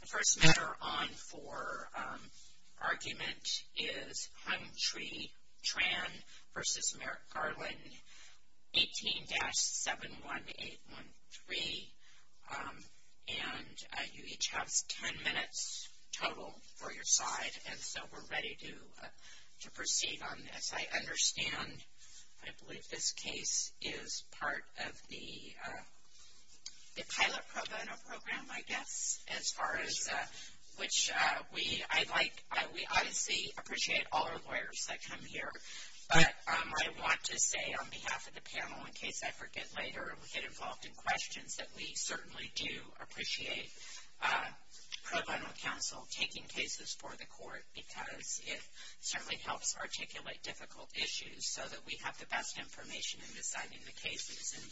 The first matter on for argument is Hung-Tri Tran v. Merrick Garland, 18-71813. And you each have 10 minutes total for your side, and so we're ready to proceed on this. I understand, I believe this case is part of the pilot pro bono program, I guess, as far as, which we obviously appreciate all our lawyers that come here. But I want to say on behalf of the panel, in case I forget later and we get involved in questions, that we certainly do appreciate pro bono counsel taking cases for the court because it certainly helps articulate difficult issues so that we have the best information in deciding the cases. And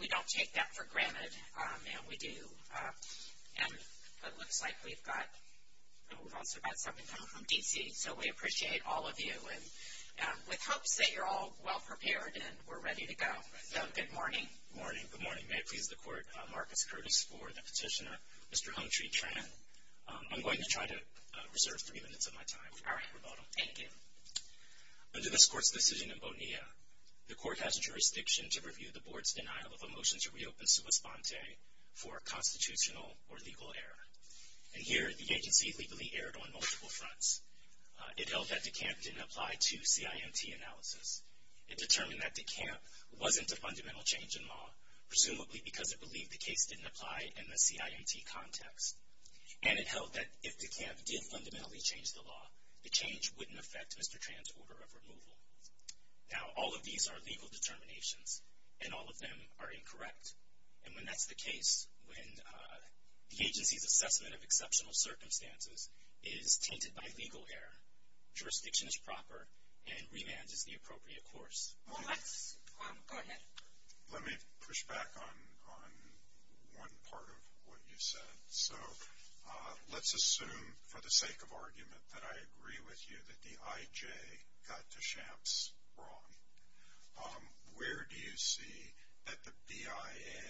we don't take that for granted, and we do. And it looks like we've also got someone coming from D.C., so we appreciate all of you, with hopes that you're all well-prepared and we're ready to go. So good morning. Good morning. May it please the Court, Marcus Curtis for the petitioner, Mr. Hung-Tri Tran. I'm going to try to reserve three minutes of my time for our pro bono. Thank you. Under this Court's decision in Bonilla, the Court has jurisdiction to review the Board's denial of a motion to reopen Sua Sponte for a constitutional or legal error. And here, the agency legally erred on multiple fronts. It held that De Camp didn't apply to CIMT analysis. It determined that De Camp wasn't a fundamental change in law, presumably because it believed the case didn't apply in the CIMT context. And it held that if De Camp did fundamentally change the law, the change wouldn't affect Mr. Tran's order of removal. Now, all of these are legal determinations, and all of them are incorrect. And when that's the case, when the agency's assessment of exceptional circumstances is tainted by legal error, jurisdiction is proper and remand is the appropriate course. Go ahead. Let me push back on one part of what you said. So let's assume, for the sake of argument, that I agree with you that the IJ got De Champs wrong. Where do you see that the BIA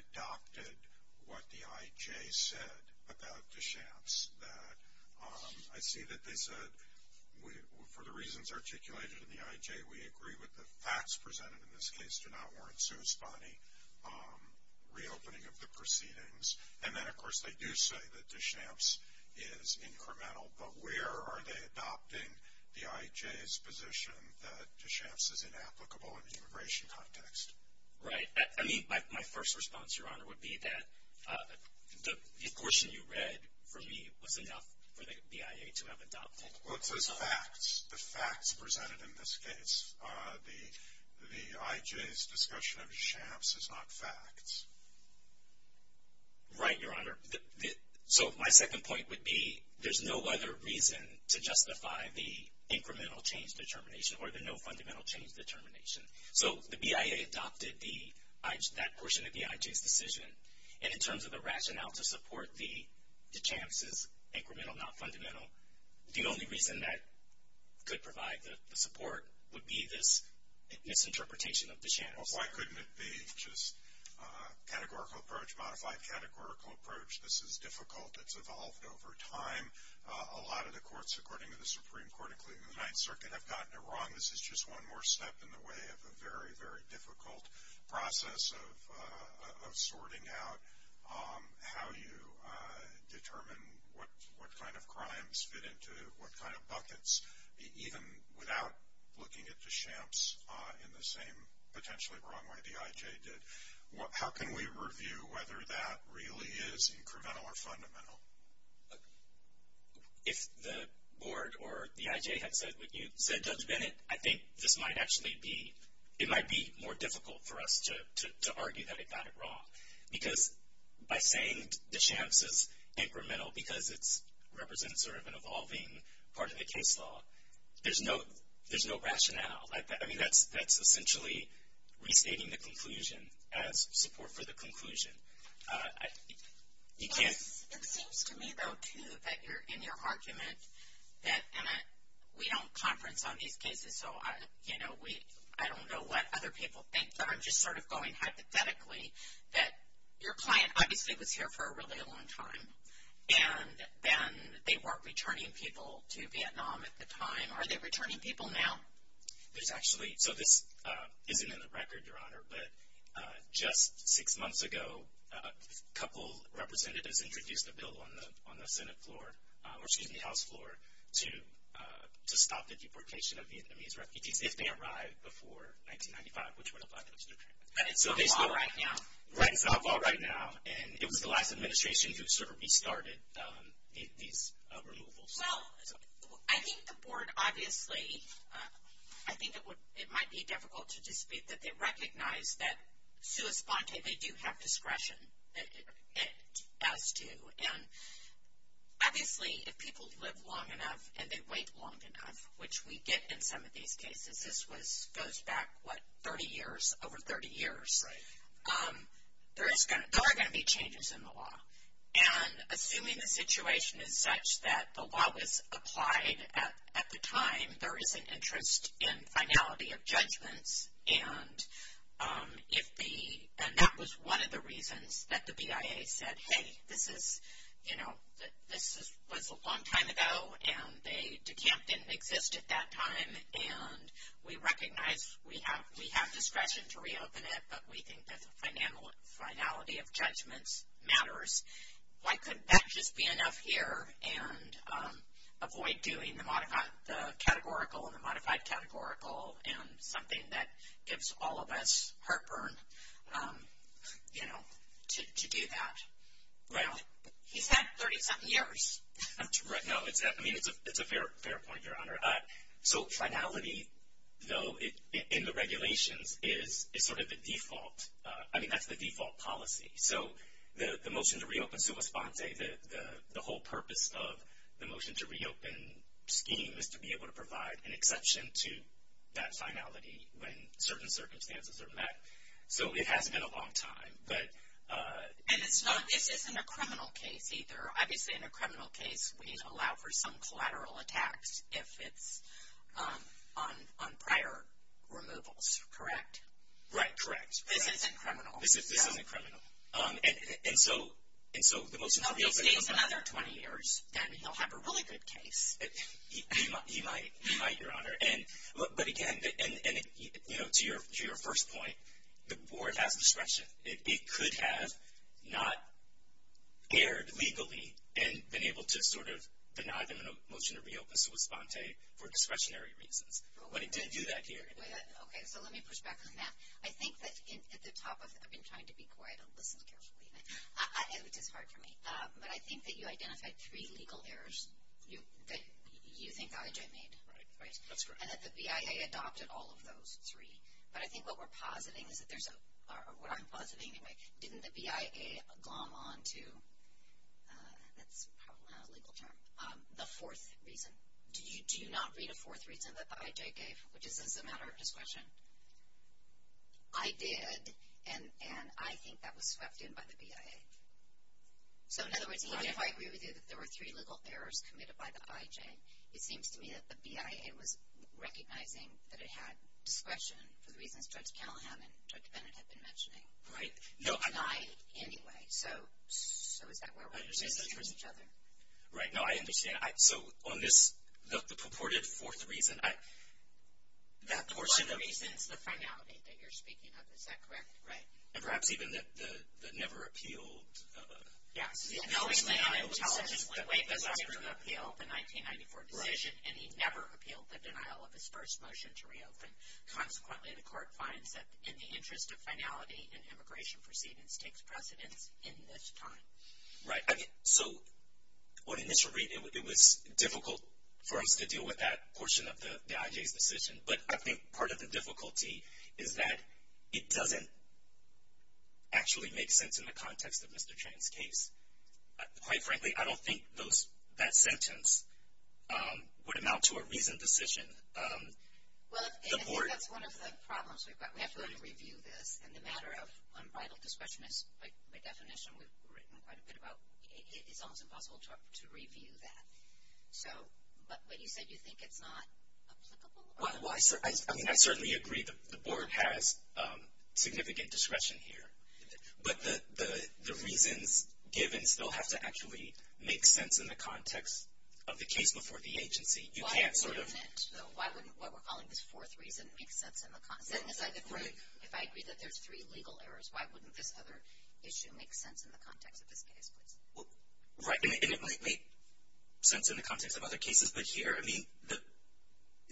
adopted what the IJ said about De Champs? I see that they said, for the reasons articulated in the IJ, we agree with the facts presented in this case to not warrant sui spani reopening of the proceedings. And then, of course, they do say that De Champs is incremental. But where are they adopting the IJ's position that De Champs is inapplicable in the immigration context? Right. I mean, my first response, Your Honor, would be that the portion you read for me was enough for the BIA to have adopted. Well, it says facts, the facts presented in this case. The IJ's discussion of De Champs is not facts. Right, Your Honor. So my second point would be there's no other reason to justify the incremental change determination or the no fundamental change determination. So the BIA adopted that portion of the IJ's decision. And in terms of the rationale to support De Champs' incremental, not fundamental, the only reason that could provide the support would be this misinterpretation of De Champs. Well, why couldn't it be just categorical approach, modified categorical approach? This is difficult. It's evolved over time. A lot of the courts, according to the Supreme Court, including the Ninth Circuit, have gotten it wrong. This is just one more step in the way of a very, very difficult process of sorting out how you determine what kind of crimes fit into what kind of buckets, even without looking at De Champs in the same potentially wrong way the IJ did. How can we review whether that really is incremental or fundamental? If the board or the IJ had said what you said, Judge Bennett, I think this might actually be, it might be more difficult for us to argue that it got it wrong. Because by saying De Champs is incremental because it represents sort of an evolving part of the case law, there's no rationale. I mean, that's essentially restating the conclusion as support for the conclusion. It seems to me, though, too, that you're in your argument that, and we don't conference on these cases, so I don't know what other people think, but I'm just sort of going hypothetically, that your client obviously was here for a really long time, and then they weren't returning people to Vietnam at the time. Are they returning people now? There's actually, so this isn't in the record, Your Honor, but just six months ago, a couple representatives introduced a bill on the Senate floor, or excuse me, House floor, to stop the deportation of Vietnamese refugees if they arrived before 1995, which would apply to Mr. Kramer. And it's not a law right now. Right, it's not a law right now. And it was the last administration who sort of restarted these removals. Well, I think the board obviously, I think it might be difficult to dispute that they recognize that, sua sponte, they do have discretion as to, and obviously, if people live long enough and they wait long enough, which we get in some of these cases, this goes back, what, 30 years, over 30 years, there are going to be changes in the law. And assuming the situation is such that the law was applied at the time, there is an interest in finality of judgments. And if the, and that was one of the reasons that the BIA said, hey, this is, you know, this was a long time ago, and the camp didn't exist at that time, and we recognize we have discretion to reopen it, but we think that the finality of judgments matters. Why couldn't that just be enough here and avoid doing the categorical and the modified categorical and something that gives all of us heartburn, you know, to do that? Well, he's had 30-something years. No, I mean, it's a fair point, Your Honor. So finality, though, in the regulations is sort of the default. I mean, that's the default policy. So the motion to reopen summa sponsae, the whole purpose of the motion to reopen scheme, is to be able to provide an exception to that finality when certain circumstances are met. So it has been a long time. And this isn't a criminal case either. Obviously, in a criminal case, we allow for some collateral attacks if it's on prior removals, correct? Right, correct. This isn't criminal. This isn't criminal. And so the motion to reopen. Now, if he stays another 20 years, then he'll have a really good case. He might, Your Honor. But, again, to your first point, the board has discretion. It could have not erred legally and been able to sort of deny them a motion to reopen summa sponsae for discretionary reasons. But it didn't do that here. Okay, so let me push back on that. I think that at the top of it, I've been trying to be quiet and listen carefully, which is hard for me, but I think that you identified three legal errors that you think IG made. Right, that's correct. And that the BIA adopted all of those three. But I think what we're positing is that there's a, or what I'm positing anyway, didn't the BIA glom on to, that's probably not a legal term, the fourth reason. Do you not read a fourth reason that the IJ gave, which is as a matter of discretion? I did, and I think that was swept in by the BIA. So, in other words, even if I agree with you that there were three legal errors committed by the IJ, it seems to me that the BIA was recognizing that it had discretion for the reasons Judge Callahan and Judge Bennett have been mentioning. Right. They'll deny it anyway. So, is that where we're positioning each other? Right, no, I understand. So, on this, the purported fourth reason, that portion of. The fourth reason is the finality that you're speaking of, is that correct? Right. And perhaps even the never appealed. Yes. The only thing I would tell is that when Wake was asked to appeal the 1994 decision, and he never appealed the denial of his first motion to reopen. Consequently, the court finds that in the interest of finality and immigration proceedings takes precedence in this time. Right. So, what initially, it was difficult for us to deal with that portion of the IJ's decision, but I think part of the difficulty is that it doesn't actually make sense in the context of Mr. Chang's case. Quite frankly, I don't think that sentence would amount to a reasoned decision. Well, I think that's one of the problems we've got. We have to go to review this, and the matter of unbridled discretion is, by definition, we've written quite a bit about, it's almost impossible to review that. So, but you said you think it's not applicable? Well, I mean, I certainly agree the board has significant discretion here, but the reasons given still have to actually make sense in the context of the case before the agency. You can't sort of. Why wouldn't it, though? Why wouldn't what we're calling this fourth reason make sense in the context? If I agree that there's three legal errors, why wouldn't this other issue make sense in the context of this case, please? Right. And it might make sense in the context of other cases, but here, I mean,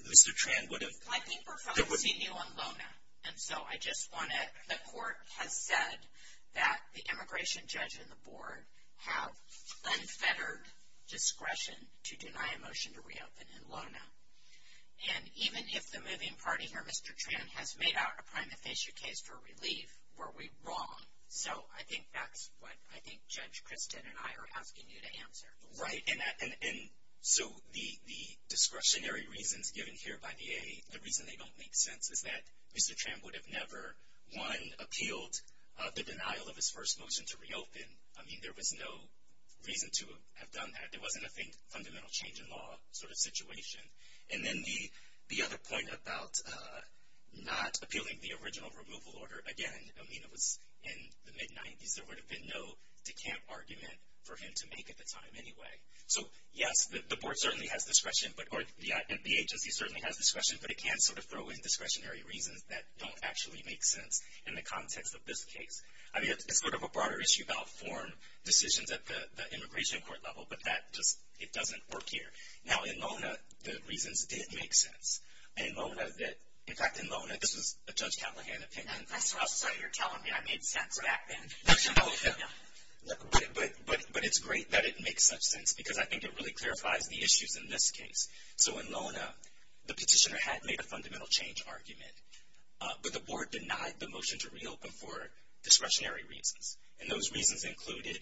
Mr. Tran would have. I think we're focusing you on LONA, and so I just want to. The court has said that the immigration judge and the board have unfettered discretion to deny a motion to reopen in LONA. And even if the moving party here, Mr. Tran, has made out a prima facie case for relief, were we wrong? So, I think that's what I think Judge Christin and I are asking you to answer. Right, and so the discretionary reasons given here by VA, the reason they don't make sense is that Mr. Tran would have never, one, appealed the denial of his first motion to reopen. I mean, there was no reason to have done that. It wasn't, I think, a fundamental change in law sort of situation. And then the other point about not appealing the original removal order, again, I mean, it was in the mid-'90s. There would have been no decamp argument for him to make at the time anyway. So, yes, the board certainly has discretion, or the agency certainly has discretion, but it can sort of throw in discretionary reasons that don't actually make sense in the context of this case. I mean, it's sort of a broader issue about form decisions at the immigration court level, but that just doesn't work here. Now, in LONA, the reasons did make sense. In fact, in LONA, this was a Judge Callahan opinion. So you're telling me I made sense back then. But it's great that it makes such sense because I think it really clarifies the issues in this case. So in LONA, the petitioner had made a fundamental change argument, but the board denied the motion to reopen for discretionary reasons. And those reasons included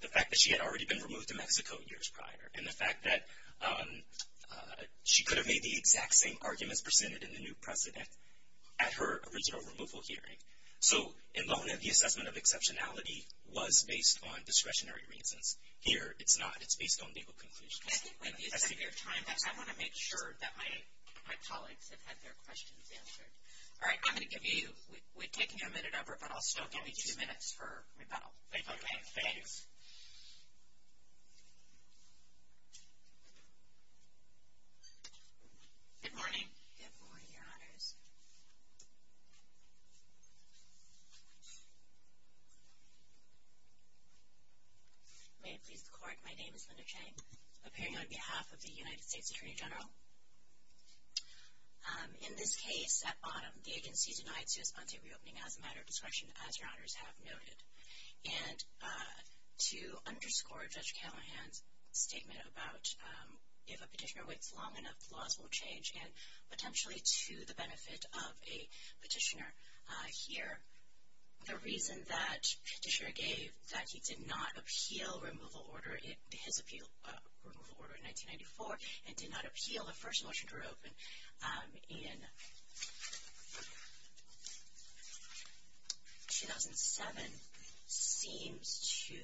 the fact that she had already been removed to Mexico years prior and the fact that she could have made the exact same arguments presented in the new precedent at her original removal hearing. So in LONA, the assessment of exceptionality was based on discretionary reasons. Here, it's not. It's based on legal conclusions. When you set your time, I want to make sure that my colleagues have had their questions answered. All right. We're taking a minute over, but I'll still give you two minutes for rebuttal. Okay. Thanks. Good morning. Good morning, Your Honors. May it please the Court, my name is Linda Chang, appearing on behalf of the United States Attorney General. In this case, at bottom, the agency denied sui spante reopening as a matter of discretion, as Your Honors have noted. And to underscore Judge Callahan's statement about if a petitioner waits long enough, laws will change, and potentially to the benefit of a petitioner. Here, the reason that Petitioner gave that he did not appeal removal order, his appeal removal order in 1994, and did not appeal the first motion to reopen in 2007, seems to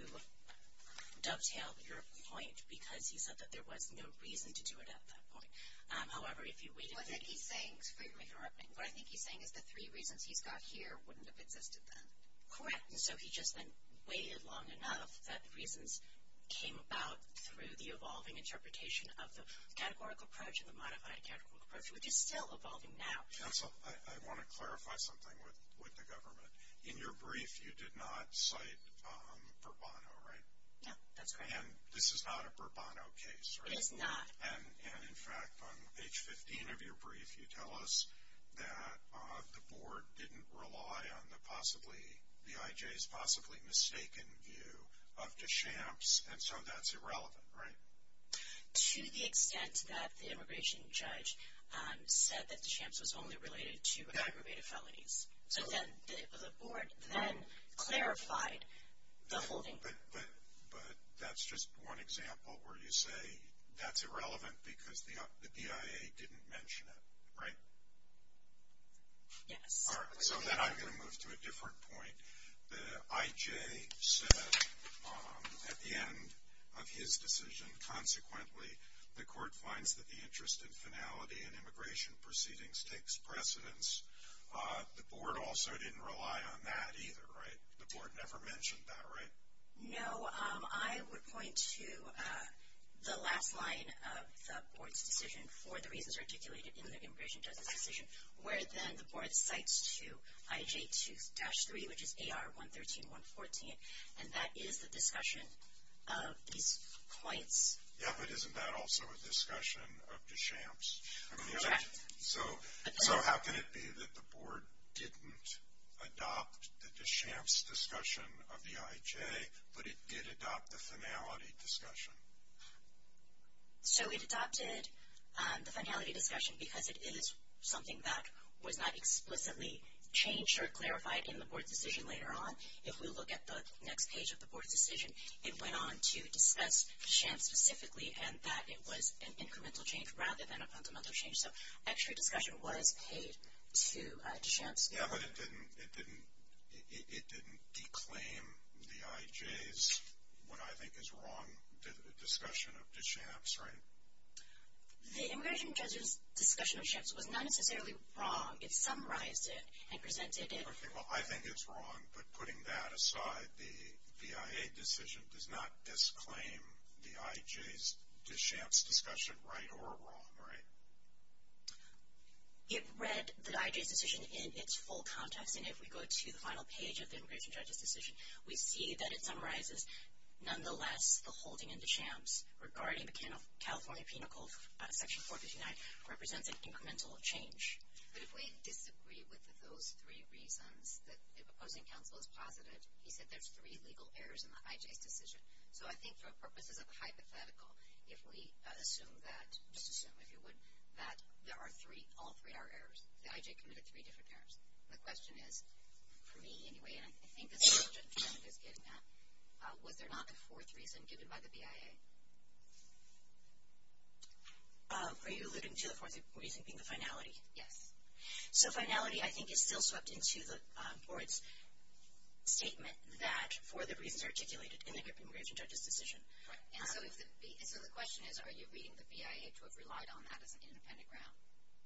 dovetail your point, because he said that there was no reason to do it at that point. However, if you waited. What I think he's saying is the three reasons he's got here wouldn't have existed then. Correct. And so he just then waited long enough that the reasons came about through the evolving interpretation of the categorical approach and the modified categorical approach, which is still evolving now. Counsel, I want to clarify something with the government. In your brief, you did not cite Bourbon, right? No, that's correct. And this is not a Bourbon case, right? It is not. And, in fact, on page 15 of your brief, you tell us that the board didn't rely on the possibly, the IJ's possibly mistaken view of DeChamps, and so that's irrelevant, right? To the extent that the immigration judge said that DeChamps was only related to aggravated felonies. So the board then clarified the holding. But that's just one example where you say that's irrelevant because the BIA didn't mention it, right? Yes. All right, so then I'm going to move to a different point. The IJ said at the end of his decision, consequently, the court finds that the interest in finality in immigration proceedings takes precedence. The board also didn't rely on that either, right? The board never mentioned that, right? No. I would point to the last line of the board's decision for the reasons articulated in the immigration judge's decision, where then the board cites to IJ 2-3, which is AR 113-114, and that is the discussion of these points. Yeah, but isn't that also a discussion of DeChamps? Correct. So how can it be that the board didn't adopt the DeChamps discussion of the IJ, but it did adopt the finality discussion? So it adopted the finality discussion because it is something that was not explicitly changed or clarified in the board's decision later on. If we look at the next page of the board's decision, it went on to discuss DeChamps specifically and that it was an incremental change rather than a fundamental change. So extra discussion was paid to DeChamps. Yeah, but it didn't declaim the IJ's what I think is wrong discussion of DeChamps, right? The immigration judge's discussion of DeChamps was not necessarily wrong. It summarized it and presented it. Well, I think it's wrong, but putting that aside, the VIA decision does not disclaim the IJ's DeChamps discussion right or wrong, right? It read the IJ's decision in its full context, and if we go to the final page of the immigration judge's decision, we see that it summarizes nonetheless the holding in DeChamps regarding the California Penal Code, Section 459, represents an incremental change. But if we disagree with those three reasons that the opposing counsel has posited, he said there's three legal errors in the IJ's decision. So I think for purposes of hypothetical, if we assume that, just assume if you would, that there are three, all three are errors. The IJ committed three different errors. The question is, for me anyway, and I think the subject matter is getting that, was there not a fourth reason given by the VIA? Are you alluding to the fourth reason being the finality? Yes. So finality, I think, is still swept into the board's statement that for the reasons articulated in the immigration judge's decision. Right. And so the question is, are you reading the VIA to have relied on that as an independent ground?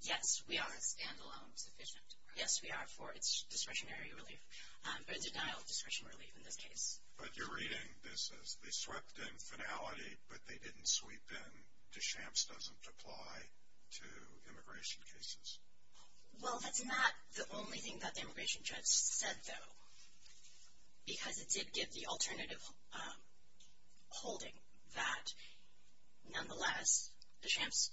Yes, we are. Is it stand-alone sufficient? Yes, we are for its discretionary relief, or denial of discretionary relief in this case. But you're reading this as they swept in finality, but they didn't sweep in DeChamps and DeChamps doesn't apply to immigration cases. Well, that's not the only thing that the immigration judge said, though, because it did give the alternative holding that, nonetheless, DeChamps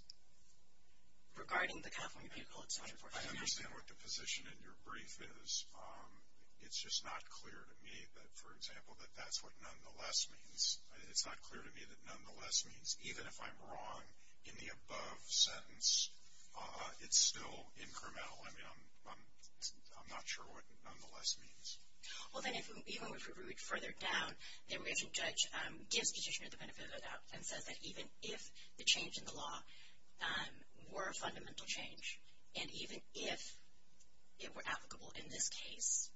regarding the California people, etc., etc. I understand what the position in your brief is. It's just not clear to me that, for example, that that's what nonetheless means. It's not clear to me that nonetheless means. Even if I'm wrong in the above sentence, it's still incremental. I mean, I'm not sure what nonetheless means. Well, then, even if we read further down, the immigration judge gives Petitioner the benefit of the doubt and says that even if the change in the law were a fundamental change, and even if it were applicable in this case,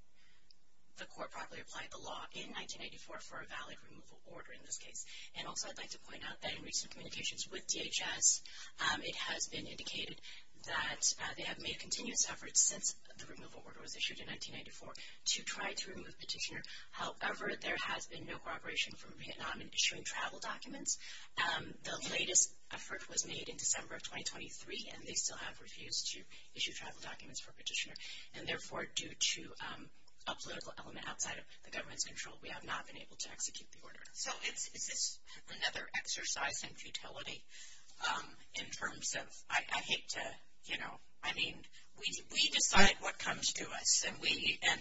the court probably applied the law in 1994 for a valid removal order in this case. And also I'd like to point out that in recent communications with DHS, it has been indicated that they have made continuous efforts since the removal order was issued in 1994 to try to remove Petitioner. However, there has been no cooperation from Vietnam in issuing travel documents. The latest effort was made in December of 2023, and they still have refused to issue travel documents for Petitioner. And therefore, due to a political element outside of the government's control, we have not been able to execute the order. So, is this another exercise in futility in terms of, I hate to, you know, I mean, we decide what comes to us, and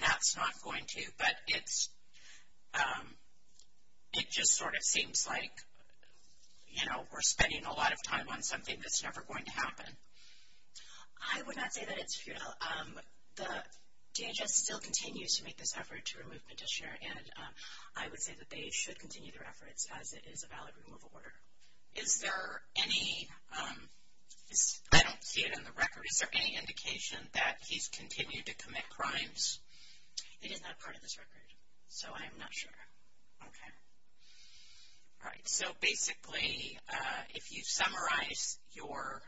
that's not going to, but it just sort of seems like, you know, we're spending a lot of time on something that's never going to happen. I would not say that it's futile. The DHS still continues to make this effort to remove Petitioner, and I would say that they should continue their efforts as it is a valid removal order. Is there any, I don't see it in the record, is there any indication that he's continued to commit crimes? It is not part of this record, so I am not sure. Okay. All right. So, basically, if you summarize your,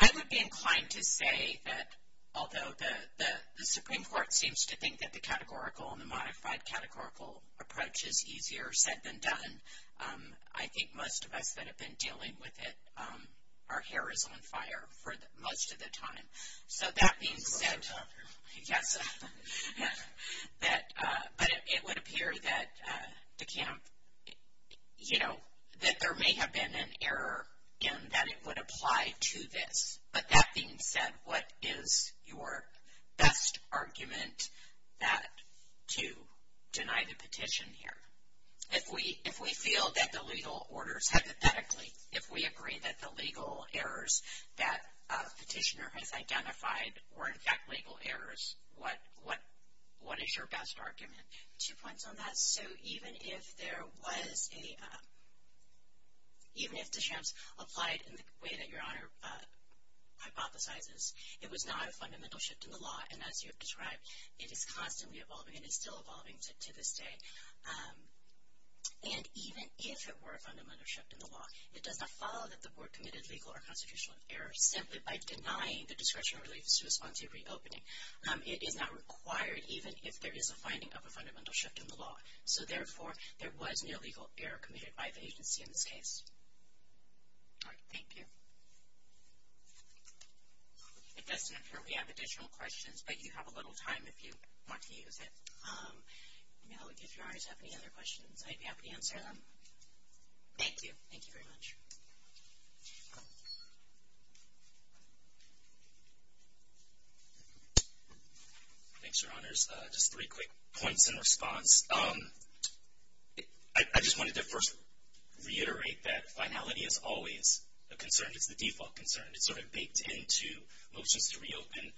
I would be inclined to say that, although the Supreme Court seems to think that the categorical and the modified categorical approach is easier said than done, I think most of us that have been dealing with it, our hair is on fire for most of the time. So, that being said, yes, but it would appear that the camp, you know, that there may have been an error in that it would apply to this, but that being said, what is your best argument to deny the petition here? If we feel that the legal orders, hypothetically, if we agree that the legal errors that Petitioner has identified were, in fact, legal errors, what is your best argument? Two points on that. So, even if there was a, even if the shams applied in the way that Your Honor hypothesizes, it was not a fundamental shift in the law, and as you have described, it is constantly evolving and is still evolving to this day. And even if it were a fundamental shift in the law, it does not follow that the Board committed legal or constitutional errors simply by denying the discretionary reliefs to respond to a reopening. It is not required, even if there is a finding of a fundamental shift in the law. So, therefore, there was no legal error committed by the agency in this case. All right. Thank you. It doesn't appear we have additional questions, but you have a little time if you want to use it. If Your Honors have any other questions, I'd be happy to answer them. Thank you very much. Thanks, Your Honors. Just three quick points in response. I just wanted to first reiterate that finality is always a concern. It's the default concern. It's sort of baked into motions to reopen.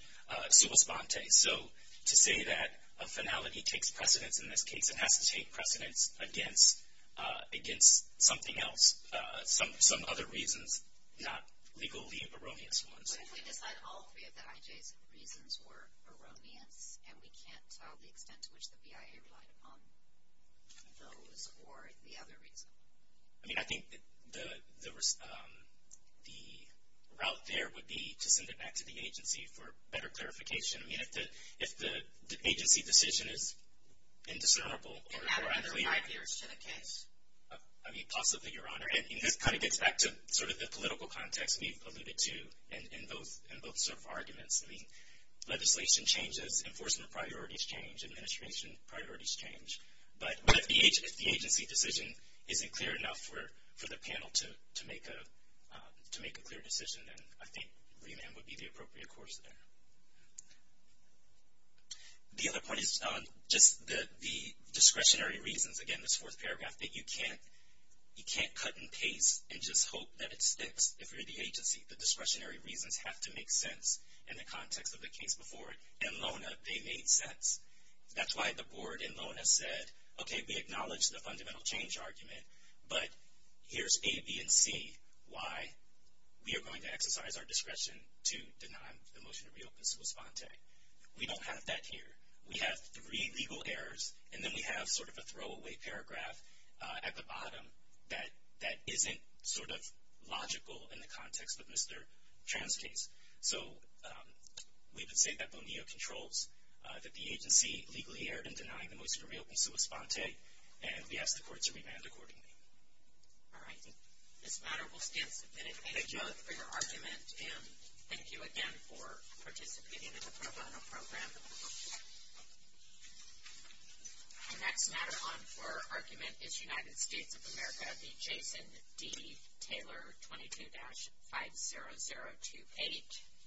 So, to say that a finality takes precedence in this case, it has to take precedence against something else, some other reasons, not legally erroneous ones. What if we decide all three of the IJ's reasons were erroneous, and we can't tell the extent to which the BIA relied upon those or the other reason? I mean, I think the route there would be to send it back to the agency for better clarification. I mean, if the agency decision is indiscernible. Add other ideas to the case? I mean, possibly, Your Honor. And this kind of gets back to sort of the political context we've alluded to in both sort of arguments. I mean, legislation changes, enforcement priorities change, administration priorities change. But if the agency decision isn't clear enough for the panel to make a clear decision, then I think remand would be the appropriate course there. The other point is just the discretionary reasons, again, this fourth paragraph, that you can't cut and paste and just hope that it sticks if you're the agency. The discretionary reasons have to make sense in the context of the case before it. In LONA, they made sense. That's why the board in LONA said, okay, we acknowledge the fundamental change argument, but here's A, B, and C, why we are going to exercise our discretion to deny the motion to reopen Sua Sponte. We don't have that here. We have three legal errors, and then we have sort of a throwaway paragraph at the bottom that isn't sort of logical in the context of Mr. Tran's case. So we would say that Bonilla controls that the agency legally erred in denying the motion to reopen Sua Sponte, and we ask the court to remand accordingly. All right. This matter will stand submitted. Thank you for your argument, and thank you again for participating in the pro bono program. Our next matter on for argument is United States of America v. Jason D. Taylor, 22-50028.